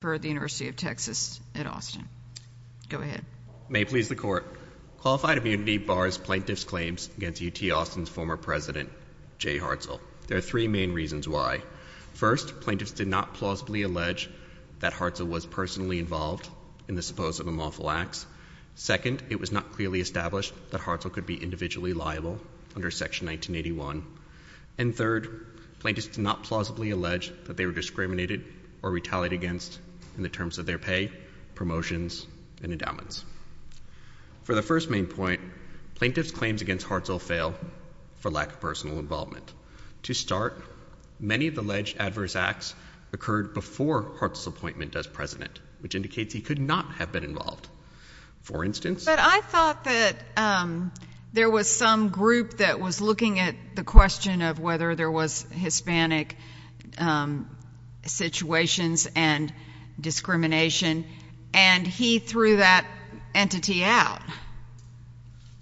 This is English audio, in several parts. for the University of Texas at Austin. Go ahead. May it please the court. Qualified immunity bars plaintiff's claims against UT Austin's former president, Jay Hartzell. There are three main reasons why. First, plaintiffs did not plausibly allege that Hartzell was personally involved in the supposed unlawful acts. Second, it was not clearly established that Hartzell could be individually liable under section 1981. And third, plaintiffs did not plausibly allege that they were discriminated or retaliated against in the terms of their pay, promotions, and endowments. For the first main point, plaintiff's claims against Hartzell fail for lack of personal involvement. To start, many of the alleged adverse acts occurred before Hartzell's appointment as president, which indicates he could not have been involved. For instance. But I thought that there was some group that was looking at the question of whether there was Hispanic situations and discrimination. And he threw that entity out.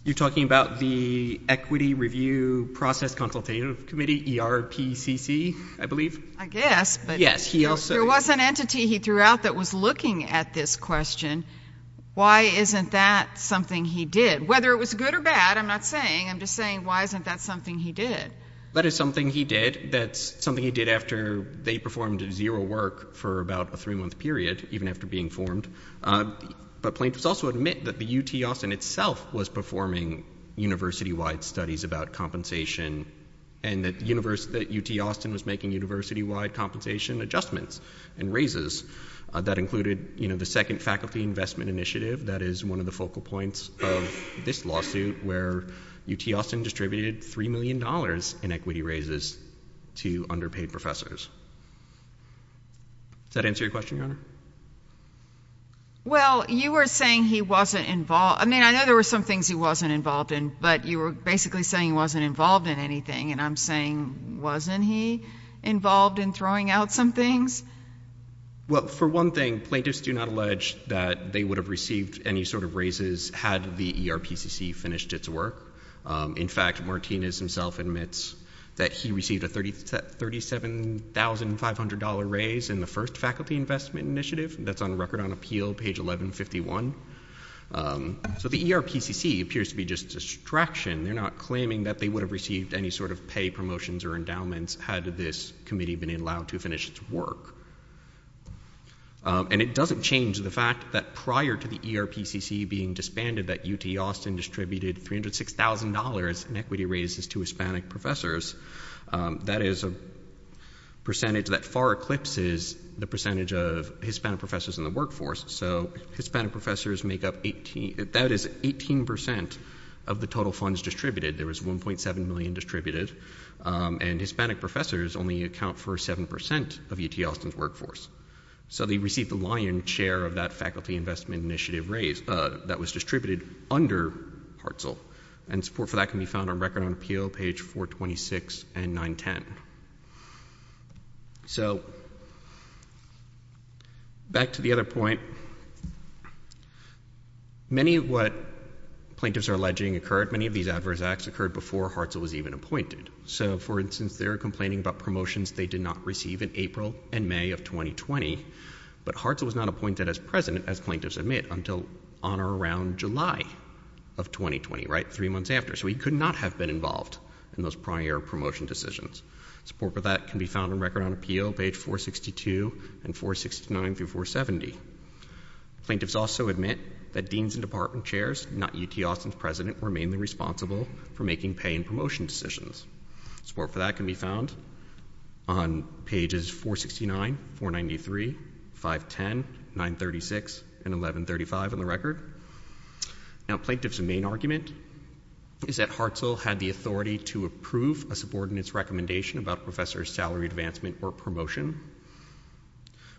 You're talking about the Equity Review Process Consultative Committee, ERPCC, I believe? I guess. But there was an entity he threw out that was looking at this question. Why isn't that something he did? Whether it was good or bad, I'm not saying. I'm just saying, why isn't that something he did? That is something he did. That's something he did after they performed zero work for about a three-month period, even after being formed. But plaintiffs also admit that the UT Austin itself was performing university-wide studies about compensation, and that UT Austin was making university-wide compensation adjustments and raises. That included the Second Faculty Investment Initiative. That is one of the focal points of this lawsuit, where UT Austin distributed $3 million in equity raises to underpaid professors. Does that answer your question, Your Honor? Well, you were saying he wasn't involved. I mean, I know there were some things he wasn't involved in, but you were basically saying he wasn't involved in anything. And I'm saying, wasn't he involved in throwing out some things? Well, for one thing, plaintiffs do not allege that they would have received any sort of raises had the ERPCC finished its work. In fact, Martinez himself admits that he received a $37,500 raise in the First Faculty Investment Initiative. That's on Record on Appeal, page 1151. So the ERPCC appears to be just a distraction. They're not claiming that they would have received any sort of pay promotions or endowments had this committee been allowed to finish its work. And it doesn't change the fact that prior to the ERPCC being disbanded, that UT Austin distributed $306,000 in equity raises to Hispanic professors. That is a percentage that far eclipses the percentage of Hispanic professors in the workforce. So Hispanic professors make up 18% of the total funds distributed. There was $1.7 million distributed. And Hispanic professors only account for 7% of UT Austin's workforce. So they received the lion share of that Faculty Investment Initiative raise that was distributed under Hartzell. And support for that can be found on Record on Appeal, page 426 and 910. So back to the other point. Many of what plaintiffs are alleging occurred, many of these adverse acts occurred before Hartzell was even appointed. So for instance, they're complaining about promotions they did not receive in April and May of 2020, but Hartzell was not appointed as president, as plaintiffs admit, until on or around July of 2020, three months after. So he could not have been involved in those prior promotion decisions. Support for that can be found on Record on Appeal, page 462 and 469 through 470. Plaintiffs also admit that deans and department chairs, not UT Austin's president, were mainly responsible for making pay and promotion decisions. Support for that can be found on pages 469, 493, 510, 936, and 1135 on the Record. Now, plaintiff's main argument is that Hartzell had the authority to approve a subordinate's recommendation about a professor's salary advancement or promotion.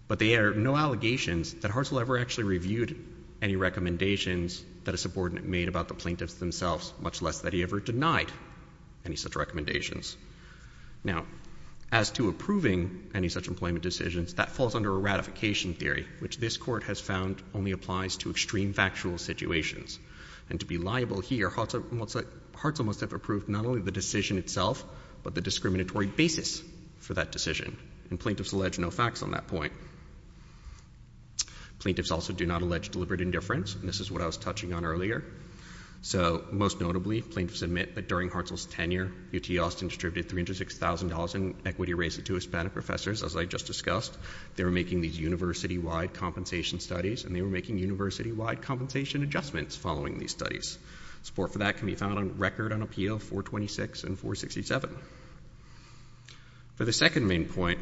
But there are no allegations that Hartzell ever actually reviewed any recommendations that a subordinate made about the plaintiffs themselves, much less that he ever denied any such recommendations. Now, as to approving any such employment decisions, that falls under a ratification theory, which this court has found only applies to extreme factual situations. And to be liable here, Hartzell must have approved not only the decision itself, but the discriminatory basis for that decision. And plaintiffs allege no facts on that point. Plaintiffs also do not allege deliberate indifference. And this is what I was touching on earlier. So most notably, plaintiffs admit that during Hartzell's tenure, UT Austin distributed $306,000 in equity raises to Hispanic professors, as I just discussed. They were making these university-wide compensation studies. And they were making university-wide compensation adjustments following these studies. Support for that can be found on Record on Appeal 426 and 467. For the second main point,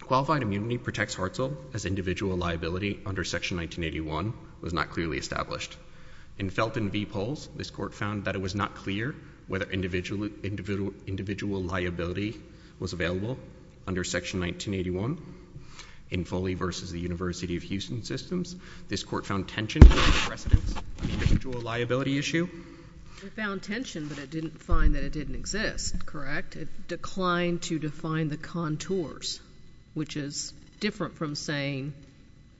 qualified immunity protects Hartzell as individual liability under Section 1981 was not clearly established. In Felton v. Poles, this court found that it was not clear whether individual liability was available under Section 1981. In Foley v. The University of Houston Systems, this court found tension in the precedence on the individual liability issue. It found tension, but it didn't find that it didn't exist, correct? It declined to define the contours, which is different from saying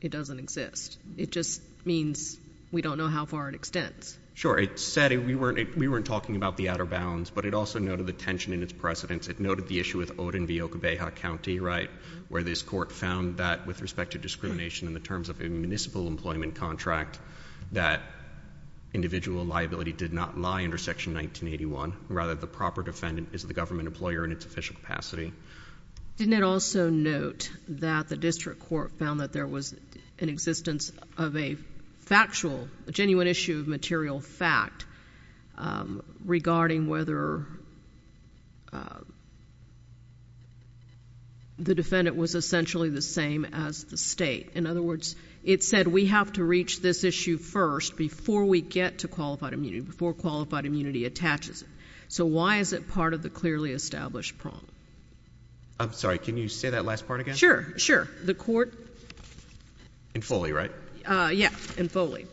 it doesn't exist. It just means we don't know how far it extends. Sure, it said we weren't talking about the outer bounds, but it also noted the tension in its precedence. It noted the issue with Odin v. Okabeha County, where this court found that, with respect to discrimination in the terms of a municipal employment contract, that individual liability did not lie under Section 1981. Rather, the proper defendant is the government employer in its official capacity. Didn't it also note that the district court found that there was an existence of a factual, a genuine issue of material fact regarding whether the defendant was essentially the same as the state? In other words, it said we have to reach this issue first before we get to qualified immunity, before qualified immunity attaches it. So why is it part of the clearly established problem? I'm sorry. Can you say that last part again? Sure, sure. The court... In Foley, right? Yeah, in Foley.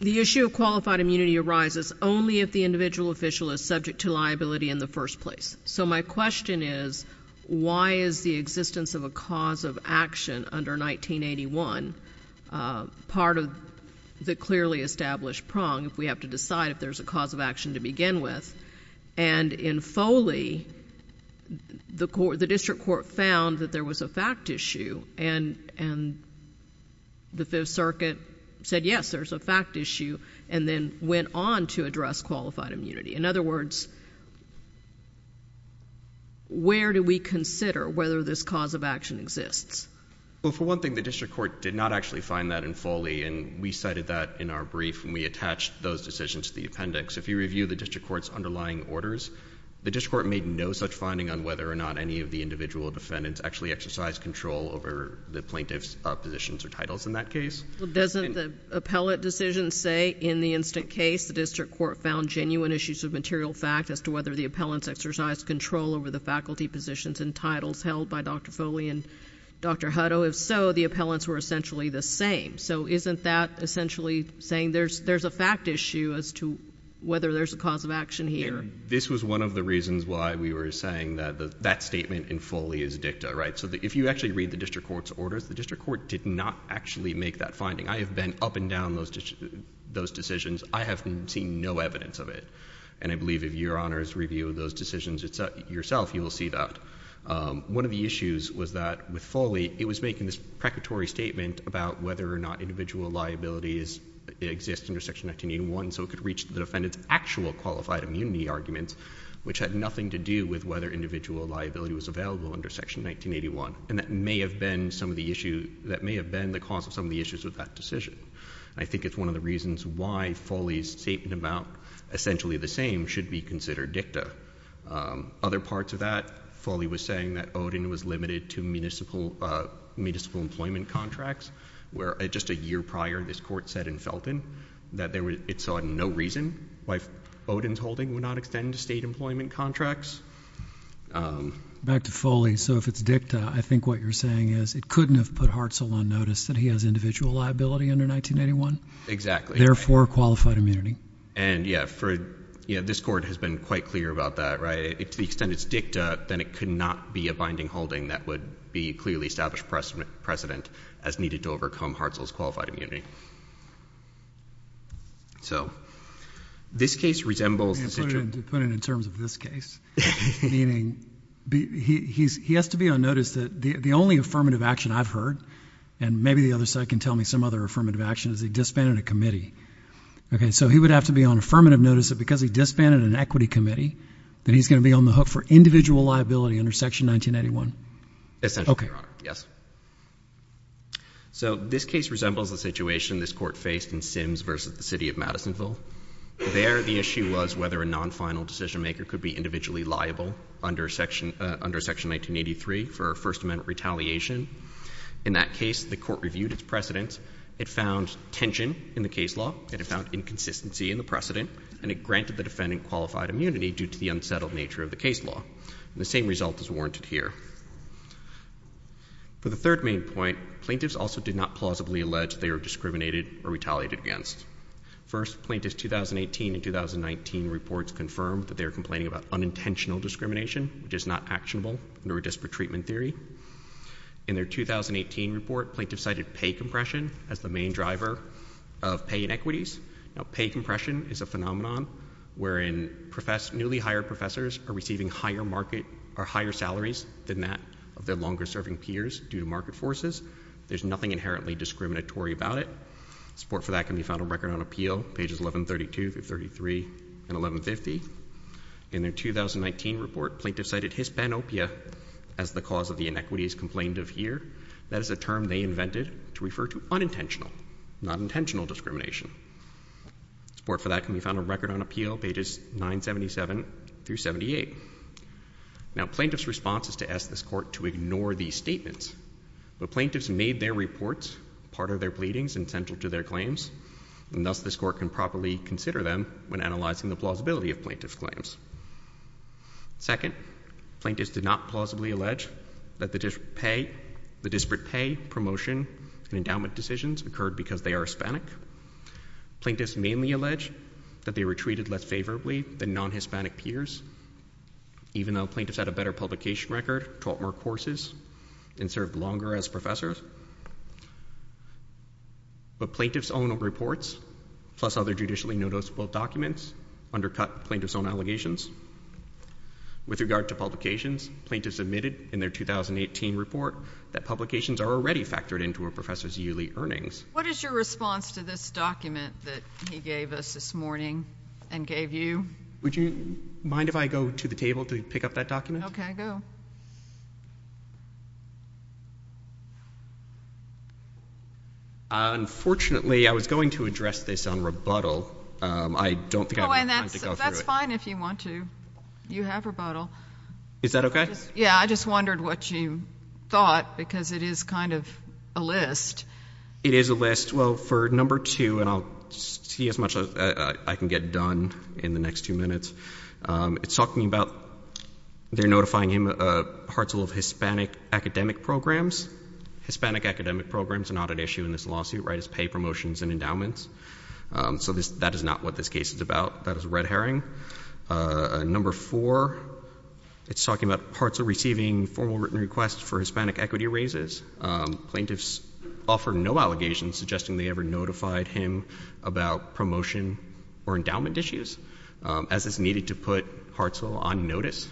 The issue of qualified immunity arises only if the individual official is subject to liability in the first place. So my question is, why is the existence of a cause of action under 1981 part of the clearly established prong if we have to decide if there's a cause of action to begin with? And in Foley, the district court found that there was a fact issue, and the Fifth Circuit said, yes, there's a fact issue, and then went on to address qualified immunity. In other words, where do we consider whether this cause of action exists? Well, for one thing, the district court did not actually find that in Foley. And we cited that in our brief, and we attached those decisions to the appendix. If you review the district court's underlying orders, the district court made no such finding on whether or not any of the individual defendants actually exercised control over the plaintiff's positions or titles in that case. Doesn't the appellate decision say, in the instant case, the district court found genuine issues of material fact as to whether the appellants exercised control over the faculty positions and titles held by Dr. Foley and Dr. Hutto? If so, the appellants were essentially the same. So isn't that essentially saying there's a fact issue as to whether there's a cause of action here? This was one of the reasons why we were saying that that statement in Foley is dicta, right? So if you actually read the district court's orders, the district court did not actually make that finding. I have been up and down those decisions. I have seen no evidence of it. And I believe if your honor's reviewed those decisions yourself, you will see that. One of the issues was that, with Foley, it was making this precatory statement about whether or not individual liabilities exist under Section 1981 so it could reach the defendant's actual qualified immunity arguments, which had nothing to do with whether individual liability was available under Section 1981. And that may have been the cause of some of the issues with that decision. I think it's one of the reasons why Foley's statement about essentially the same should be considered dicta. Other parts of that, Foley was saying that Odin was limited to municipal employment contracts, where just a year prior, this court said in Felton that it saw no reason why Odin's holding would not extend state employment contracts. Back to Foley. So if it's dicta, I think what you're saying is it couldn't have put Hartzell on notice that he has individual liability under 1981? Exactly. Therefore, qualified immunity. And yeah, this court has been quite clear about that, right? To the extent it's dicta, then it could not be a binding holding that would be clearly established precedent as needed to overcome Hartzell's qualified immunity. So this case resembles the situation Put it in terms of this case. Meaning, he has to be on notice that the only affirmative action I've heard, and maybe the other side can tell me some other affirmative action, is he disbanded a committee. OK, so he would have to be on affirmative notice that because he disbanded an equity committee, that he's going to be on the hook for individual liability under section 1981? Essentially, Your Honor, yes. So this case resembles the situation this court faced in Sims versus the city of Madisonville. There, the issue was whether a non-final decision maker could be individually liable under section 1983 for a First Amendment retaliation. In that case, the court reviewed its precedents. It found tension in the case law. It found inconsistency in the precedent. And it granted the defendant qualified immunity due to the unsettled nature of the case law. The same result is warranted here. For the third main point, plaintiffs also did not plausibly allege they were discriminated or retaliated against. First, plaintiffs' 2018 and 2019 reports confirmed that they were complaining about unintentional discrimination, which is not actionable under a disparate treatment theory. In their 2018 report, plaintiffs cited pay compression as the main driver of pay inequities. Now, pay compression is a phenomenon wherein newly hired professors are receiving higher market or higher salaries than that of their longer-serving peers due to market forces. There's nothing inherently discriminatory about it. Support for that can be found on Record on Appeal, pages 1132 through 33 and 1150. In their 2019 report, plaintiffs cited hispanopia as the cause of the inequities complained of here. That is a term they invented to refer to unintentional, not intentional discrimination. Support for that can be found on Record on Appeal, pages 977 through 78. Now, plaintiffs' response is to ask this court to ignore these statements. But plaintiffs made their reports part of their pleadings and central to their claims. And thus, this court can properly consider them when analyzing the plausibility of plaintiff's claims. Second, plaintiffs did not plausibly allege that the disparate pay, promotion, and endowment decisions occurred because they are Hispanic. Plaintiffs mainly allege that they were treated less favorably than non-Hispanic peers, even though plaintiffs had a better publication record, taught more courses, and served longer as professors. But plaintiff's own reports, plus other judicially noticeable documents, undercut plaintiff's own allegations. With regard to publications, plaintiffs admitted in their 2018 report that publications are already factored into a professor's yearly earnings. What is your response to this document that he gave us this morning and gave you? Would you mind if I go to the table to pick up that document? OK, go. Unfortunately, I was going to address this on rebuttal. I don't think I have time to go through it. Oh, and that's fine if you want to. You have rebuttal. Is that OK? Yeah, I just wondered what you thought, because it is kind of a list. It is a list. Well, for number two, and I'll see as much as I can get done in the next few minutes, it's talking about they're notifying Hartzell of Hispanic academic programs. Hispanic academic programs are not an issue in this lawsuit, right? It's pay promotions and endowments. So that is not what this case is about. That is a red herring. Number four, it's talking about Hartzell receiving formal written requests for Hispanic equity raises. Plaintiffs offered no allegations suggesting they ever notified him about promotion or endowment issues, as is needed to put Hartzell on notice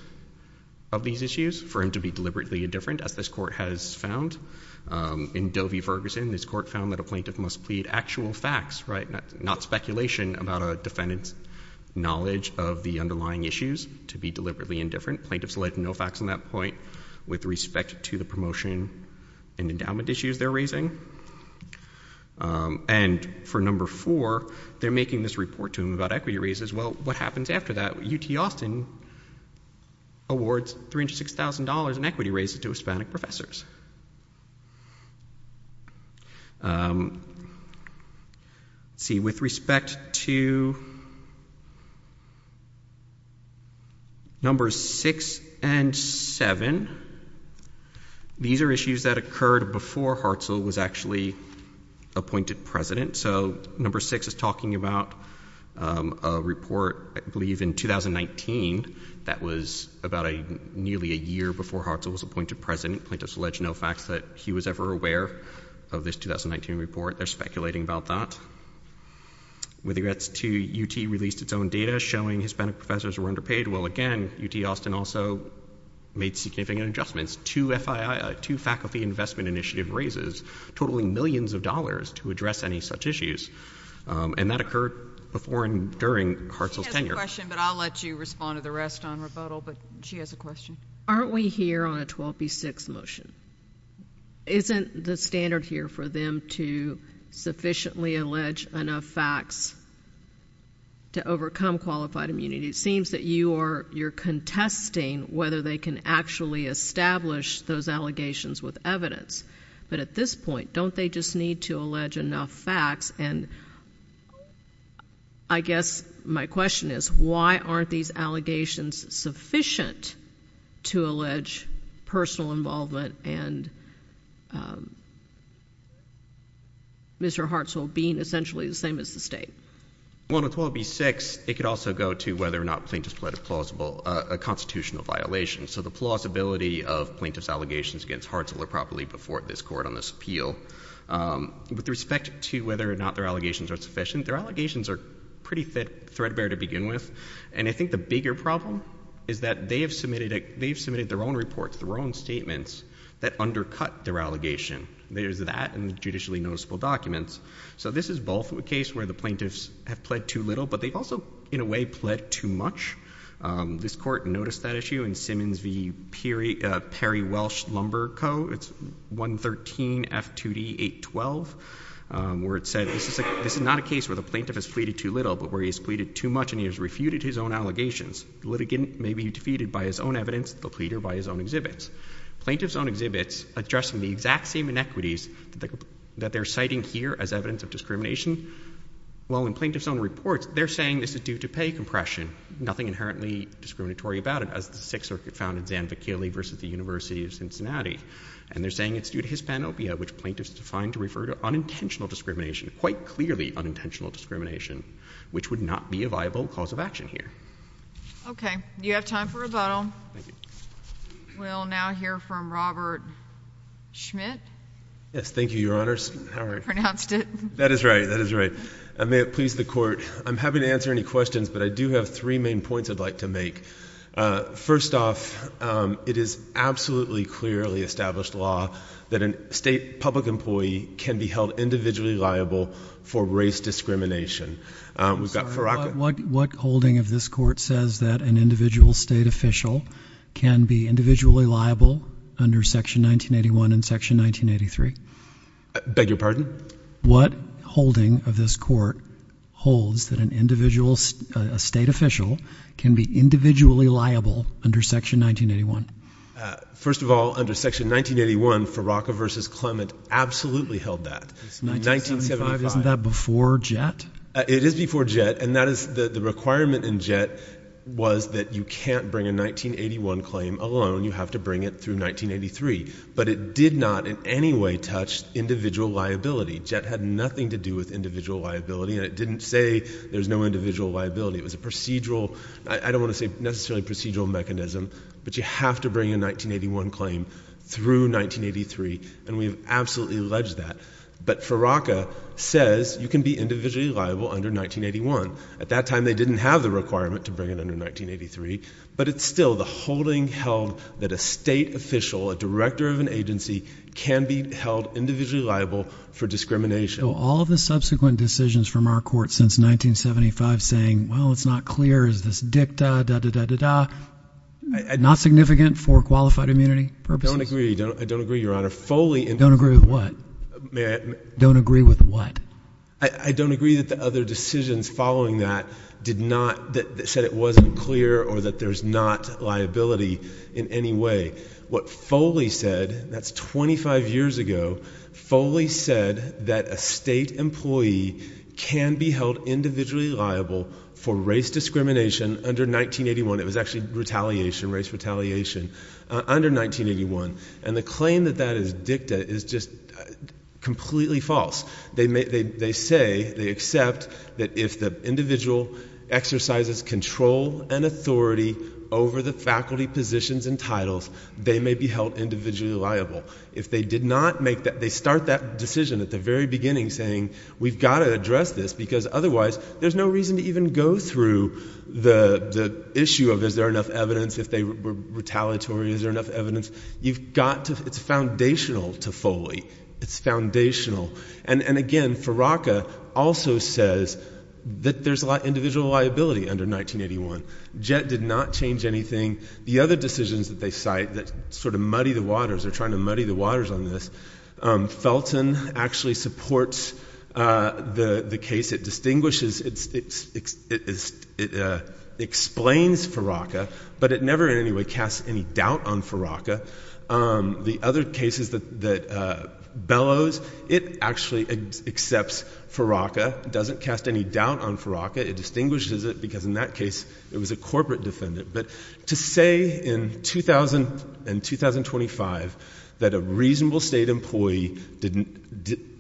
of these issues for him to be deliberately indifferent, as this court has found. In Dovey-Ferguson, this court found that a plaintiff must plead actual facts, not speculation about a defendant's knowledge of the underlying issues to be deliberately indifferent. Plaintiffs led no facts on that point with respect to the promotion and endowment issues they're raising. And for number four, they're making this report to him about equity raises. Well, what happens after that? UT Austin awards $3,000 to $6,000 in equity raises to Hispanic professors. See, with respect to numbers six and seven, these are issues that occurred before Hartzell was actually appointed president. So number six is talking about a report, I believe, in 2019 that was about nearly a year before Hartzell was appointed president. Plaintiffs allege no facts that he was ever aware of this 2019 report. They're speculating about that. With regards to UT released its own data showing Hispanic professors were underpaid, well, again, UT Austin also made significant adjustments. Two faculty investment initiative raises totaling millions of dollars to address any such issues. And that occurred before and during Hartzell's tenure. She has a question, but I'll let you respond to the rest on rebuttal. But she has a question. Aren't we here on a 12B6 motion? Isn't the standard here for them to sufficiently allege enough facts to overcome qualified immunity? It seems that you're contesting whether they can actually establish those allegations with evidence. But at this point, don't they just need to allege enough facts? And I guess my question is, why aren't these allegations sufficient to allege personal involvement and Mr. Hartzell being essentially the same as the state? Well, on 12B6, it could also go to whether or not plaintiffs pled a constitutional violation. So the plausibility of plaintiff's allegations against Hartzell are probably before this court on this appeal. With respect to whether or not their allegations are sufficient, their allegations are pretty threadbare to begin with. And I think the bigger problem is that they have submitted their own reports, their own statements that undercut their allegation. There's that in the judicially noticeable documents. So this is both a case where the plaintiffs have pled too little, but they've also, in a way, pled too much. This court noticed that issue in Simmons v. Perry Welsh Lumber Co. It's 113 F2D 812, where it said, this is not a case where the plaintiff has pleaded too little, but where he's pleaded too much and he has refuted his own allegations. The litigant may be defeated by his own evidence. The pleader by his own exhibits. Plaintiff's own exhibits addressing the exact same inequities that they're citing here as evidence of discrimination. While in plaintiff's own reports, they're saying this is due to pay compression, nothing inherently discriminatory about it, as the Sixth Circuit found in Zanvakili versus the University of Cincinnati. And they're saying it's due to hispanopia, which plaintiffs defined to refer to unintentional discrimination, quite clearly unintentional discrimination, which would not be a viable cause of action here. OK, you have time for rebuttal. We'll now hear from Robert Schmidt. Yes, thank you, Your Honors. Pronounced it. That is right, that is right. I may have pleased the court. I'm happy to answer any questions, but I do have three main points I'd like to make. First off, it is absolutely clearly established law that a state public employee can be held individually liable for race discrimination. We've got Faraka. What holding of this court says that an individual state official can be individually liable under Section 1981 and Section 1983? Beg your pardon? What holding of this court holds that an individual state official can be individually liable under Section 1981? First of all, under Section 1981, Faraka versus Clement absolutely held that. 1975, isn't that before Jett? It is before Jett. And the requirement in Jett was that you can't bring a 1981 claim alone. You have to bring it through 1983. But it did not in any way touch individual liability. Jett had nothing to do with individual liability. And it didn't say there's no individual liability. It was a procedural, I don't want to say necessarily procedural mechanism, but you have to bring a 1981 claim through 1983. And we've absolutely alleged that. But Faraka says you can be individually liable under 1981. At that time, they didn't have the requirement to bring it under 1983. But it's still the holding held that a state official, a director of an agency, can be held individually liable for discrimination. All of the subsequent decisions from our court since 1975 saying, well, it's not clear. Is this dicta, da, da, da, da, da, not significant for qualified immunity purposes? I don't agree. I don't agree, Your Honor. Foley and- Don't agree with what? Don't agree with what? I don't agree that the other decisions following that did not, that said it wasn't clear or that there's not liability in any way. What Foley said, that's 25 years ago, Foley said that a state employee can be held individually liable for race discrimination under 1981. It was actually retaliation, race retaliation, under 1981. And the claim that that is dicta is just completely false. They say, they accept, that if the individual exercises control and authority over the faculty positions and titles, they may be held individually liable. If they did not make that, they start that decision at the very beginning saying, we've got to address this because otherwise, there's no reason to even go through the issue of, is there enough evidence if they were retaliatory, is there enough evidence? You've got to, it's foundational to Foley. It's foundational. And again, Farraka also says that there's individual liability under 1981. Jett did not change anything. The other decisions that they cite that sort of muddy the waters, they're trying to muddy the waters on this, Felton actually supports the case. It distinguishes, it explains Farraka, but it never in any way casts any doubt on Farraka. The other cases that bellows, it actually accepts Farraka. It doesn't cast any doubt on Farraka. It distinguishes it because in that case, it was a corporate defendant. But to say in 2000 and 2025 that a reasonable state employee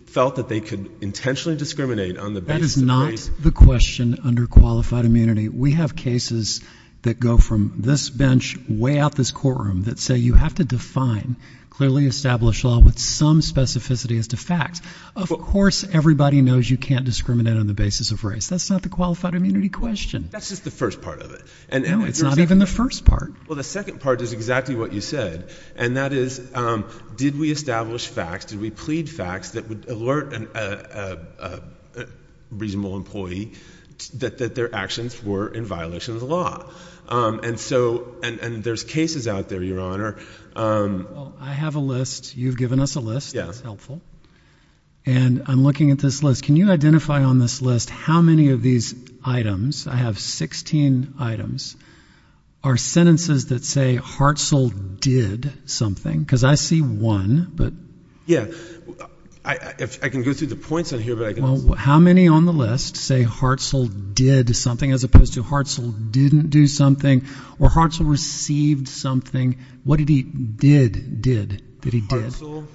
felt that they could intentionally discriminate on the basis of race. That is not the question under qualified immunity. We have cases that go from this bench way out this courtroom that say you have to define clearly established law with some specificity as to facts. Of course, everybody knows you can't discriminate on the basis of race. That's not the qualified immunity question. That's just the first part of it. No, it's not even the first part. Well, the second part is exactly what you said. And that is, did we establish facts? Did we plead facts that would alert a reasonable employee that their actions were in violation of the law? And there's cases out there, Your Honor. I have a list. You've given us a list. That's helpful. And I'm looking at this list. Can you identify on this list how many of these items? I have 16 items. Are sentences that say Hartzell did something? Because I see one, but. Yeah, I can go through the points on here, but I can't. How many on the list say Hartzell did something, as opposed to Hartzell didn't do something, or Hartzell received something? What did he did, did, that he did? Hartzell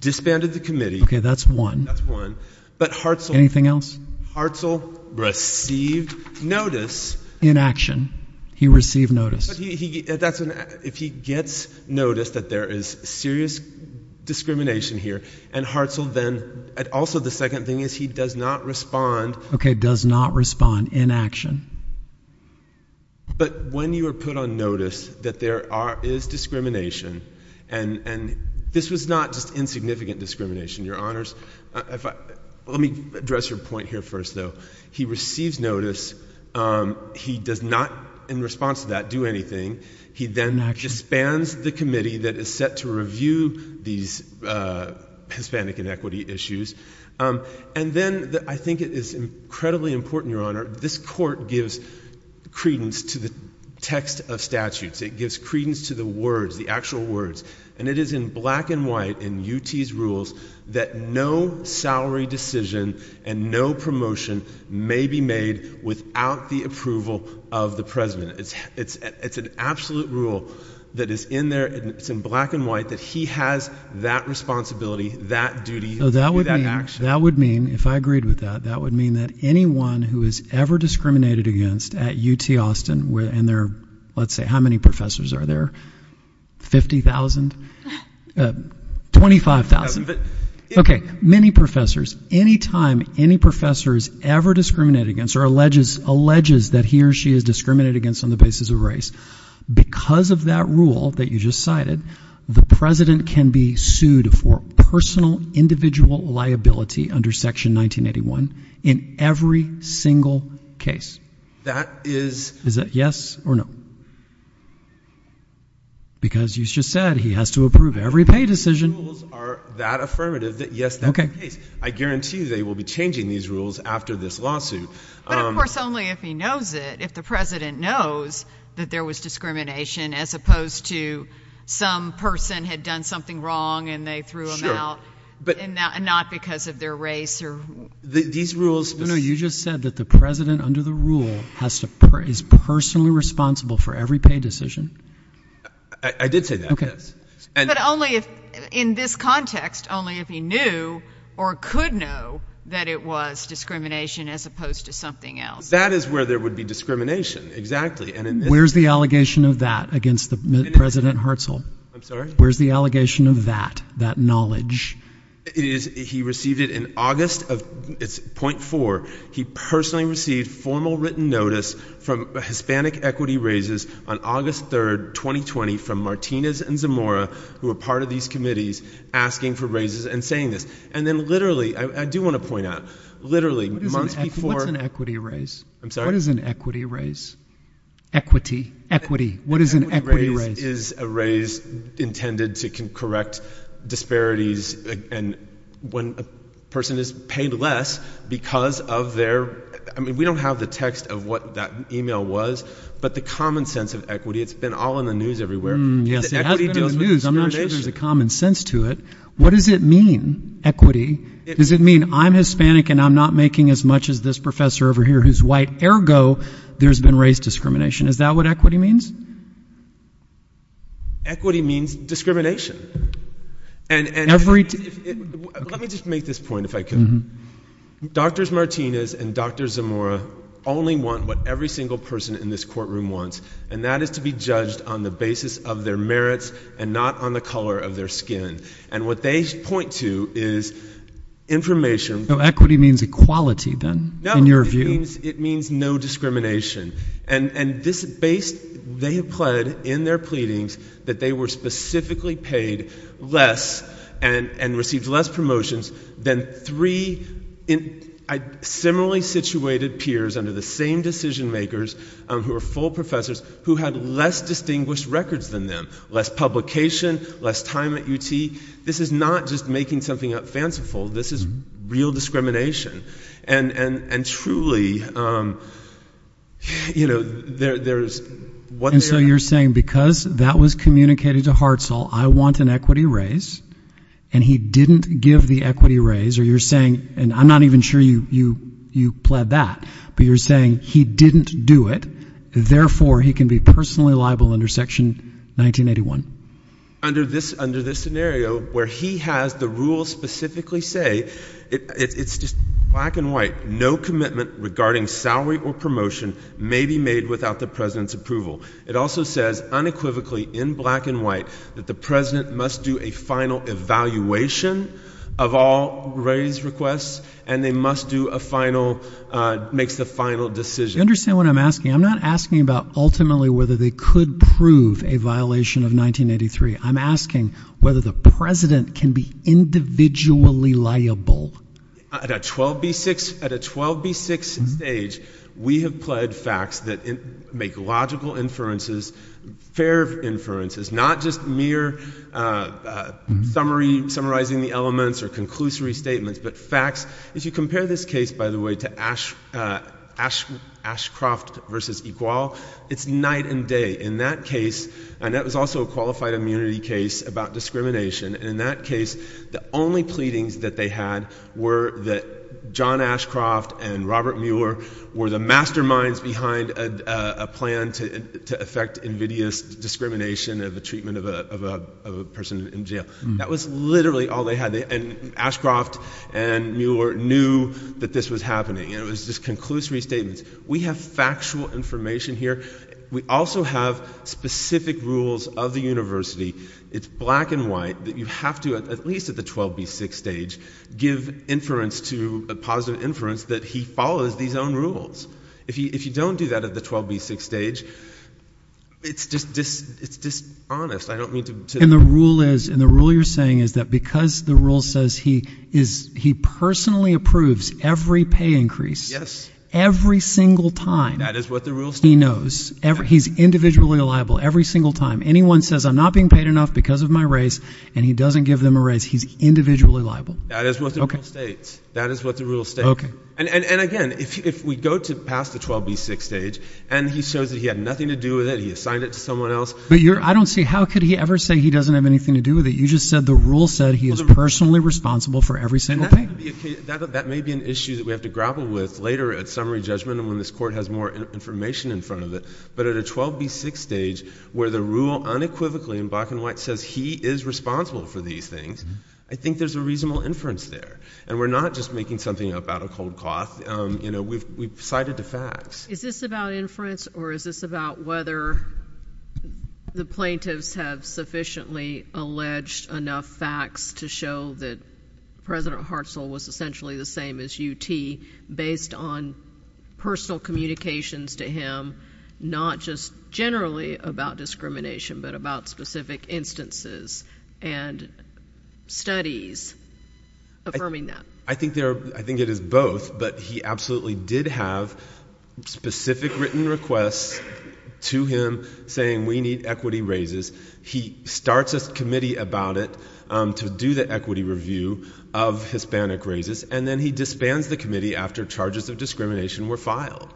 disbanded the committee. OK, that's one. That's one. But Hartzell. Anything else? Hartzell received notice. In action, he received notice. If he gets notice that there is serious discrimination here, and Hartzell then, and also the second thing is he does not respond. OK, does not respond in action. But when you are put on notice that there is discrimination, and this was not just insignificant discrimination, your honors, let me address your point here first, though. He receives notice. He does not, in response to that, do anything. He then disbands the committee that is set to review these Hispanic inequity issues. And then, I think it is incredibly important, your honor, this court gives credence to the text of statutes. It gives credence to the words, the actual words. And it is in black and white in UT's rules that no salary decision and no promotion may be made without the approval of the president. It's an absolute rule that is in there, and it's in black and white, that he has that responsibility, that duty, that action. That would mean, if I agreed with that, that would mean that anyone who is ever discriminated against at UT Austin, and there are, let's say, how many professors are there, 50,000, 25,000? OK, many professors, any time any professor is ever discriminated against or alleges that he or she is discriminated against on the basis of race, because of that rule that you just cited, the president can be sued for personal individual liability under section 1981 in every single case. That is. Is that yes or no? Because you just said, he has to approve every pay decision. Rules are that affirmative that yes, that's the case. I guarantee you they will be changing these rules after this lawsuit. But of course, only if he knows it, if the president knows that there was discrimination, as opposed to some person had done something wrong and they threw him out, and not because of their race or. These rules. No, no, you just said that the president, under the rule, is personally responsible for every pay decision. I did say that, yes. But only if, in this context, only if he knew or could know that it was discrimination, as opposed to something else. That is where there would be discrimination, exactly. Where's the allegation of that against President Hartzell? Where's the allegation of that, that knowledge? He received it in August of, it's point four, he personally received formal written notice from Hispanic equity raises on August 3, 2020, from Martinez and Zamora, who were part of these committees, asking for raises and saying this. And then literally, I do want to point out, literally months before. What's an equity raise? I'm sorry? What is an equity raise? Equity, equity, what is an equity raise? Equity raise is a raise intended to correct disparities. And when a person is paid less because of their, I mean, we don't have the text of what that email was. But the common sense of equity, it's been all in the news everywhere. Yes, it has been in the news. I'm not sure there's a common sense to it. What does it mean, equity? Does it mean I'm Hispanic and I'm not making as much as this professor over here who's white? Ergo, there's been race discrimination. Is that what equity means? Equity means discrimination. And let me just make this point, if I can. Drs. Martinez and Dr. Zamora only want what every single person in this courtroom wants. And that is to be judged on the basis of their merits and not on the color of their skin. And what they point to is information. Equity means equality, then, in your view. It means no discrimination. And they have pled in their pleadings that they were specifically paid less and received less promotions than three similarly situated peers under the same decision makers, who are full professors, who had less distinguished records than them. Less publication, less time at UT. This is not just making something up fanciful. This is real discrimination. And truly, there is what they are. You're saying, because that was communicated to Hartzell, I want an equity raise. And he didn't give the equity raise. Or you're saying, and I'm not even sure you pled that. But you're saying, he didn't do it. Therefore, he can be personally liable under Section 1981. Under this scenario, where he has the rules specifically say, it's just black and white. No commitment regarding salary or promotion may be made without the president's approval. It also says, unequivocally, in black and white, that the president must do a final evaluation of all raise requests, and they must do a final, makes the final decision. You understand what I'm asking? I'm not asking about, ultimately, whether they could prove a violation of 1983. I'm asking whether the president can be individually liable. At a 12B6 stage, we have pled facts that make logical inferences, fair inferences, not just mere summarizing the elements or conclusory statements, but facts. If you compare this case, by the way, to Ashcroft versus Equal, it's night and day. In that case, and that was also a qualified immunity case about discrimination, in that case, the only pleadings that they had were that John Ashcroft and Robert Mueller were the masterminds behind a plan to affect invidious discrimination of the treatment of a person in jail. That was literally all they had. Ashcroft and Mueller knew that this was happening. It was just conclusory statements. We have factual information here. We also have specific rules of the university. It's black and white that you have to, at least at the 12B6 stage, give inference to a positive inference that he follows these own rules. If you don't do that at the 12B6 stage, it's dishonest. I don't mean to. And the rule is, and the rule you're saying is that because the rule says he personally approves every pay increase, every single time, he knows. He's individually liable every single time. Anyone says, I'm not being paid enough because of my race, and he doesn't give them a raise, he's individually liable. That is what the rule states. That is what the rule states. And again, if we go to past the 12B6 stage, and he shows that he had nothing to do with it, he assigned it to someone else. But I don't see how could he ever say he doesn't have anything to do with it. You just said the rule said he is personally responsible for every single pay. That may be an issue that we have to grapple with later at summary judgment, and when this court has more information in front of it. But at a 12B6 stage, where the rule unequivocally in black and white says he is responsible for these things, I think there's a reasonable inference there. And we're not just making something up out of cold cloth. We've cited the facts. Is this about inference, or is this about whether the plaintiffs have sufficiently alleged enough facts to show that President Hartzell was essentially the same as UT, based on personal communications to him, not just generally about discrimination, but about specific instances? And studies affirming that. I think it is both, but he absolutely did have specific written requests to him, saying we need equity raises. He starts a committee about it to do the equity review of Hispanic raises. And then he disbands the committee after charges of discrimination were filed.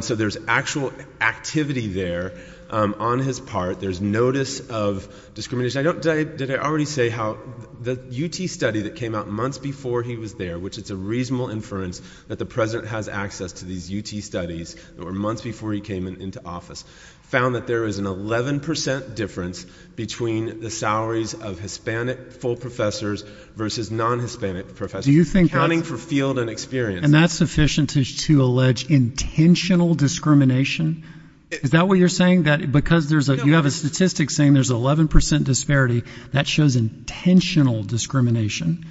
So there's actual activity there on his part. There's notice of discrimination. Did I already say how the UT study that came out months before he was there, which it's a reasonable inference that the president has access to these UT studies that were months before he came into office, found that there is an 11% difference between the salaries of Hispanic full professors versus non-Hispanic professors, accounting for field and experience. And that's sufficient to allege intentional discrimination? Is that what you're saying? Because you have a statistic saying there's 11% disparity. That shows intentional discrimination,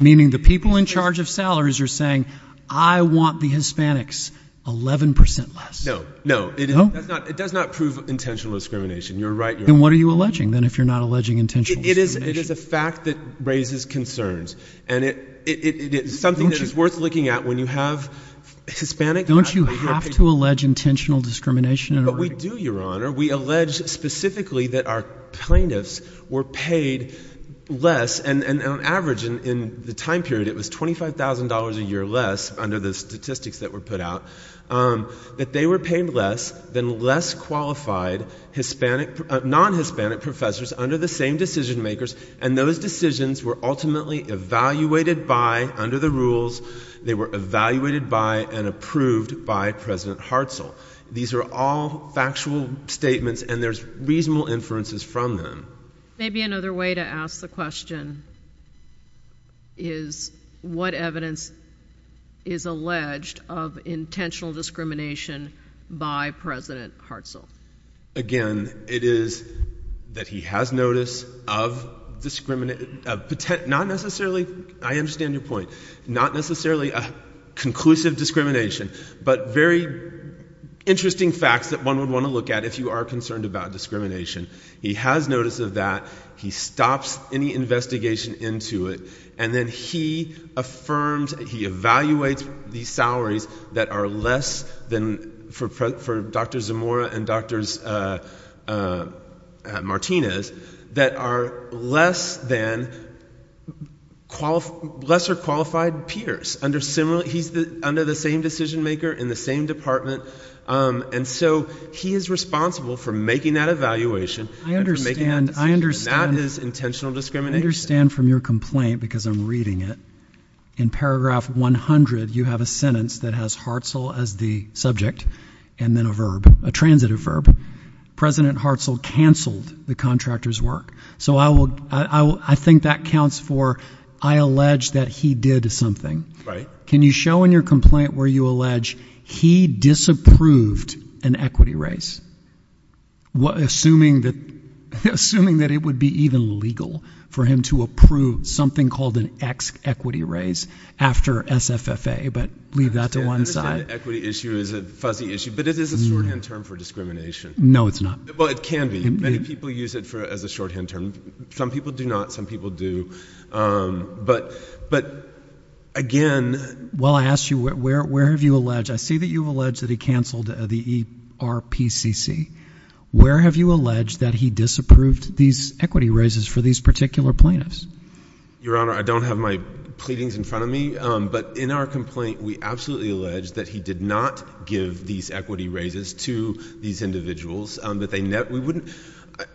meaning the people in charge of salaries are saying, I want the Hispanics 11% less. No, no. It does not prove intentional discrimination. You're right. Then what are you alleging, then, if you're not alleging intentional discrimination? It is a fact that raises concerns. And it is something that is worth looking at when you have Hispanic faculty. Don't you have to allege intentional discrimination in a writing? But we do, Your Honor. We allege specifically that our plaintiffs were paid less. And on average, in the time period, it was $25,000 a year less, under the statistics that were put out, that they were paid less than less qualified non-Hispanic professors under the same decision makers. And those decisions were ultimately evaluated by, under the rules, they were evaluated by and approved by President Hartzell. These are all factual statements. And there's reasonable inferences from them. Maybe another way to ask the question is, what evidence is alleged of intentional discrimination by President Hartzell? Again, it is that he has notice of discrimination, not necessarily, I understand your point, not necessarily a conclusive discrimination, but very interesting facts that one would want to look at if you are concerned about discrimination. He has notice of that. He stops any investigation into it. And then he affirms, he evaluates these salaries that are less than, for Dr. Zamora and Dr. Martinez, that are less than lesser qualified peers. He's under the same decision maker in the same department. And so he is responsible for making that evaluation and for making that decision. I understand. That is intentional discrimination. I understand from your complaint, because I'm reading it, in paragraph 100, you have a sentence that has Hartzell as the subject, and then a verb, a transitive verb. President Hartzell canceled the contractor's work. So I think that counts for, I allege that he did something. Can you show in your complaint where you allege he disapproved an equity raise, assuming that it would be even legal for him to approve something called an ex-equity raise after SFFA? But leave that to one side. Equity issue is a fuzzy issue. But it is a shorthand term for discrimination. No, it's not. Well, it can be. Many people use it as a shorthand term. Some people do not. Some people do. But again, Well, I asked you, where have you alleged? I see that you've alleged that he canceled the ERPCC. Where have you alleged that he disapproved these equity raises for these particular plaintiffs? Your Honor, I don't have my pleadings in front of me. But in our complaint, we absolutely allege that he did not give these equity raises to these individuals.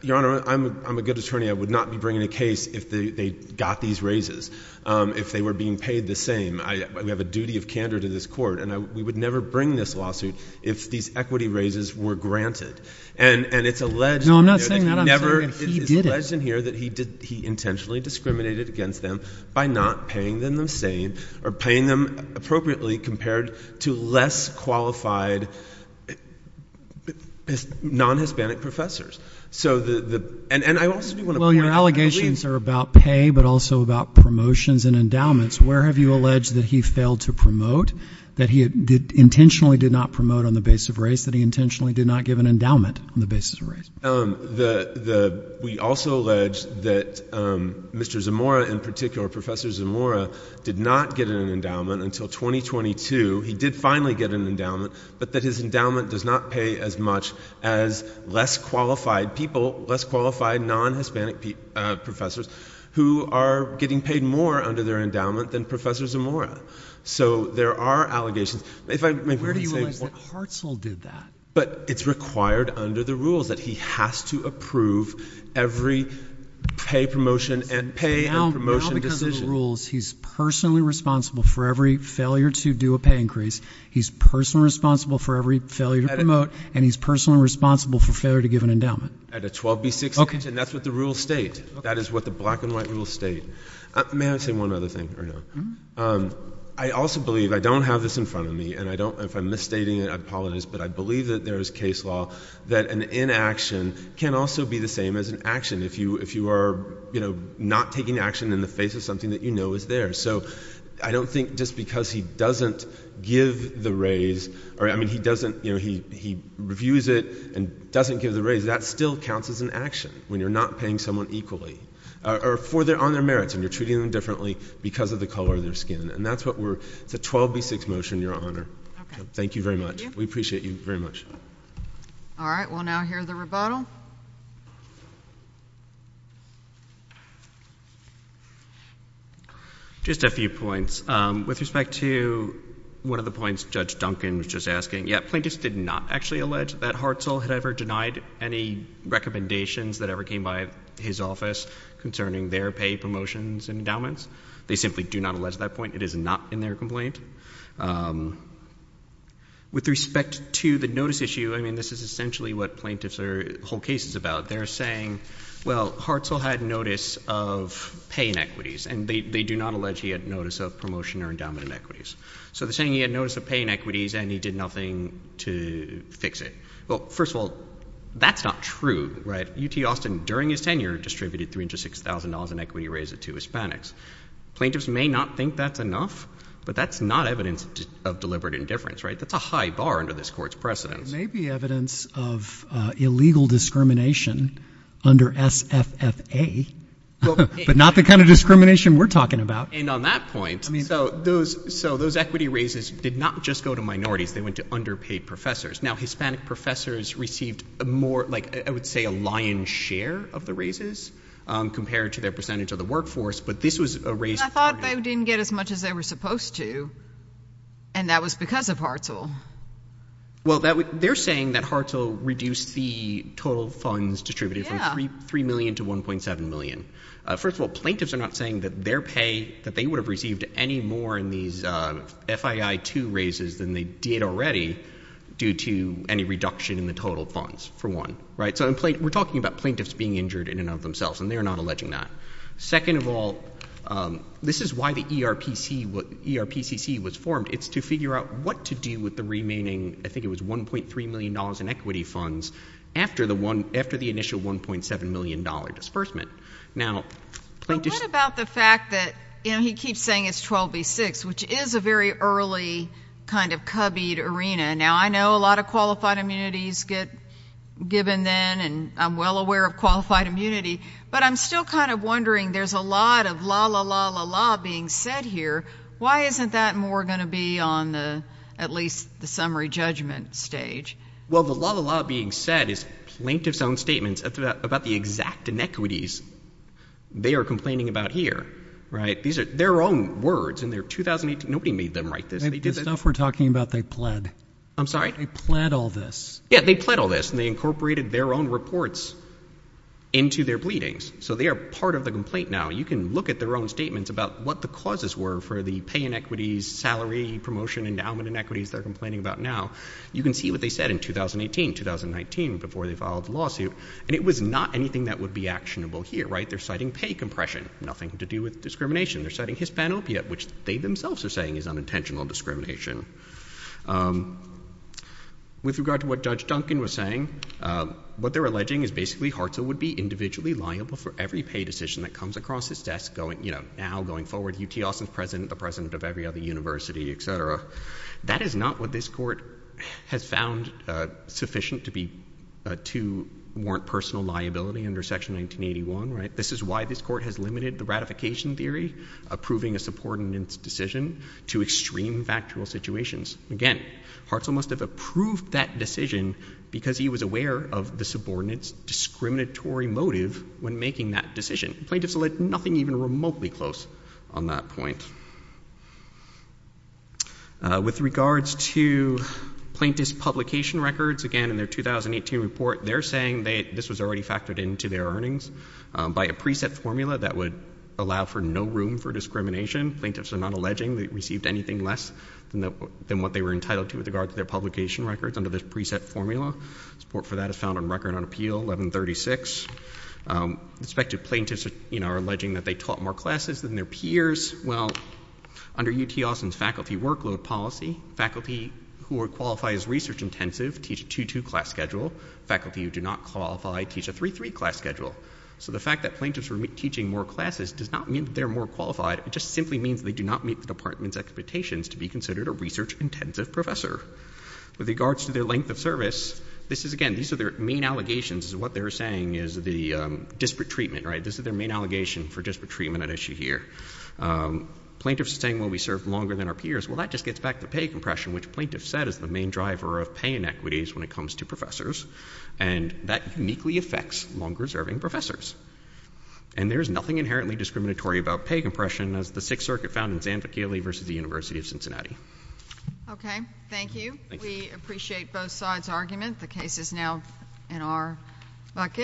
Your Honor, I'm a good attorney. I would not be bringing a case if they got these raises, if they were being paid the same. We have a duty of candor to this court. And we would never bring this lawsuit if these equity raises were granted. And it's alleged that he intentionally discriminated against them by not paying them the same or paying them appropriately compared to less qualified non-Hispanic professors. So the, and I also do want to point out Well, your allegations are about pay, but also about promotions and endowments. Where have you alleged that he failed to promote, that he intentionally did not promote on the basis of race, that he intentionally did not give an endowment on the basis of race? We also allege that Mr. Zamora, in particular Professor Zamora, did not get an endowment until 2022. He did finally get an endowment, but that his endowment does not pay as much as less qualified people, less qualified non-Hispanic professors, who are getting paid more under their endowment than Professor Zamora. So there are allegations. If I may be able to say one. Where do you realize that Hartzell did that? But it's required under the rules that he has to approve every pay promotion and pay and promotion decision. So now because of the rules, he's personally responsible for every failure to do a pay increase. He's personally responsible for every failure to promote, and he's personally responsible for failure to give an endowment. At a 12B6 decision, that's what the rules state. That is what the black and white rules state. May I say one other thing right now? I also believe, I don't have this in front of me, and if I'm misstating it, I apologize, but I believe that there is case law that an inaction can also be the same as an action. If you are not taking action in the face of something that you know is there. So I don't think just because he doesn't give the raise, or I mean he doesn't, he reviews it and doesn't give the raise, that still counts as an action when you're not paying someone equally, or on their merits and you're treating them differently because of the color of their skin. And that's what we're, it's a 12B6 motion, your honor. Thank you very much. We appreciate you very much. All right, we'll now hear the rebuttal. Just a few points. With respect to one of the points Judge Duncan was just asking, yeah, plaintiffs did not actually allege that Hartzell had ever denied any recommendations that ever came by his office concerning their pay promotions and endowments. They simply do not allege that point. It is not in their complaint. With respect to the notice issue, I mean this is essentially what plaintiffs are holding cases about. They're saying, well, Hartzell had notice of pay inequities. And they do not allege he had notice of promotion or endowment inequities. So they're saying he had notice of pay inequities and he did nothing to fix it. Well, first of all, that's not true, right? UT Austin, during his tenure, distributed $306,000 in equity raise to Hispanics. Plaintiffs may not think that's enough, but that's not evidence of deliberate indifference, right? That's a high bar under this court's precedence. It may be evidence of illegal discrimination under SFFA, but not the kind of discrimination we're talking about. And on that point, so those equity raises did not just go to minorities. They went to underpaid professors. Now, Hispanic professors received more, like I would say, a lion's share of the raises compared to their percentage of the workforce. But this was a raise for him. I thought they didn't get as much as they were supposed to. And that was because of Hartzell. Well, they're saying that Hartzell reduced the total funds distributed from $3 million to $1.7 million. First of all, plaintiffs are not saying that their pay, that they would have received any more in these FII-2 raises than they did already due to any reduction in the total funds, for one, right? So we're talking about plaintiffs being injured in and of themselves, and they're not alleging that. Second of all, this is why the ERPCC was formed. It's to figure out what to do with the remaining, I think it was $1.3 million in equity funds after the initial $1.7 million disbursement. Now, plaintiffs- But what about the fact that, you know, he keeps saying it's 12v6, which is a very early kind of cubbied arena. Now, I know a lot of qualified immunities get given then, and I'm well aware of qualified immunity, but I'm still kind of wondering, there's a lot of la, la, la, la, la being said here. Why isn't that more gonna be on the, at least the summary judgment stage? Well, the la, la, la being said is plaintiff's own statements about the exact inequities they are complaining about here, right? These are their own words in their 2018, nobody made them write this. They did this- The stuff we're talking about, they pled. I'm sorry? They pled all this. Yeah, they pled all this, and they incorporated their own reports into their pleadings. So they are part of the complaint now. You can look at their own statements about what the causes were for the pay inequities, salary, promotion, endowment inequities they're complaining about now. You can see what they said in 2018, 2019, before they filed the lawsuit, and it was not anything that would be actionable here, right, they're citing pay compression, nothing to do with discrimination. They're citing hispanopia, which they themselves are saying is unintentional discrimination. With regard to what Judge Duncan was saying, what they're alleging is basically Hartzell would be individually liable for every pay decision that comes across his desk, now, going forward, UT Austin's president, the president of every other university, et cetera. That is not what this court has found sufficient to warrant personal liability under Section 1981, right? This is why this court has limited the ratification theory, approving a subordinates decision, to extreme factual situations. Again, Hartzell must have approved that decision because he was aware of the subordinates discriminatory motive when making that decision. Plaintiffs allege nothing even remotely close on that point. With regards to plaintiff's publication records, again, in their 2018 report, they're saying that this was already factored into their earnings by a preset formula that would allow for no room for discrimination. Plaintiffs are not alleging they received anything less than what they were entitled to with regards to their publication records under this preset formula. Support for that is found on record on Appeal 1136. Respective plaintiffs are alleging that they taught more classes than their peers. Well, under UT Austin's faculty workload policy, faculty who are qualified as research-intensive teach a 2-2 class schedule. Faculty who do not qualify teach a 3-3 class schedule. So the fact that plaintiffs are teaching more classes does not mean that they're more qualified. It just simply means they do not meet the department's expectations to be considered a research-intensive professor. With regards to their length of service, this is, again, these are their main allegations is what they're saying is the disparate treatment, right? This is their main allegation for disparate treatment at issue here. Plaintiffs are saying, well, we serve longer than our peers. Well, that just gets back to pay compression, which plaintiffs said is the main driver of pay inequities when it comes to professors. And that uniquely affects longer-serving professors. And there is nothing inherently discriminatory about pay compression as the Sixth Circuit found in Zanfacchile versus the University of Cincinnati. Okay, thank you. We appreciate both sides' argument. The case is now in our bucket.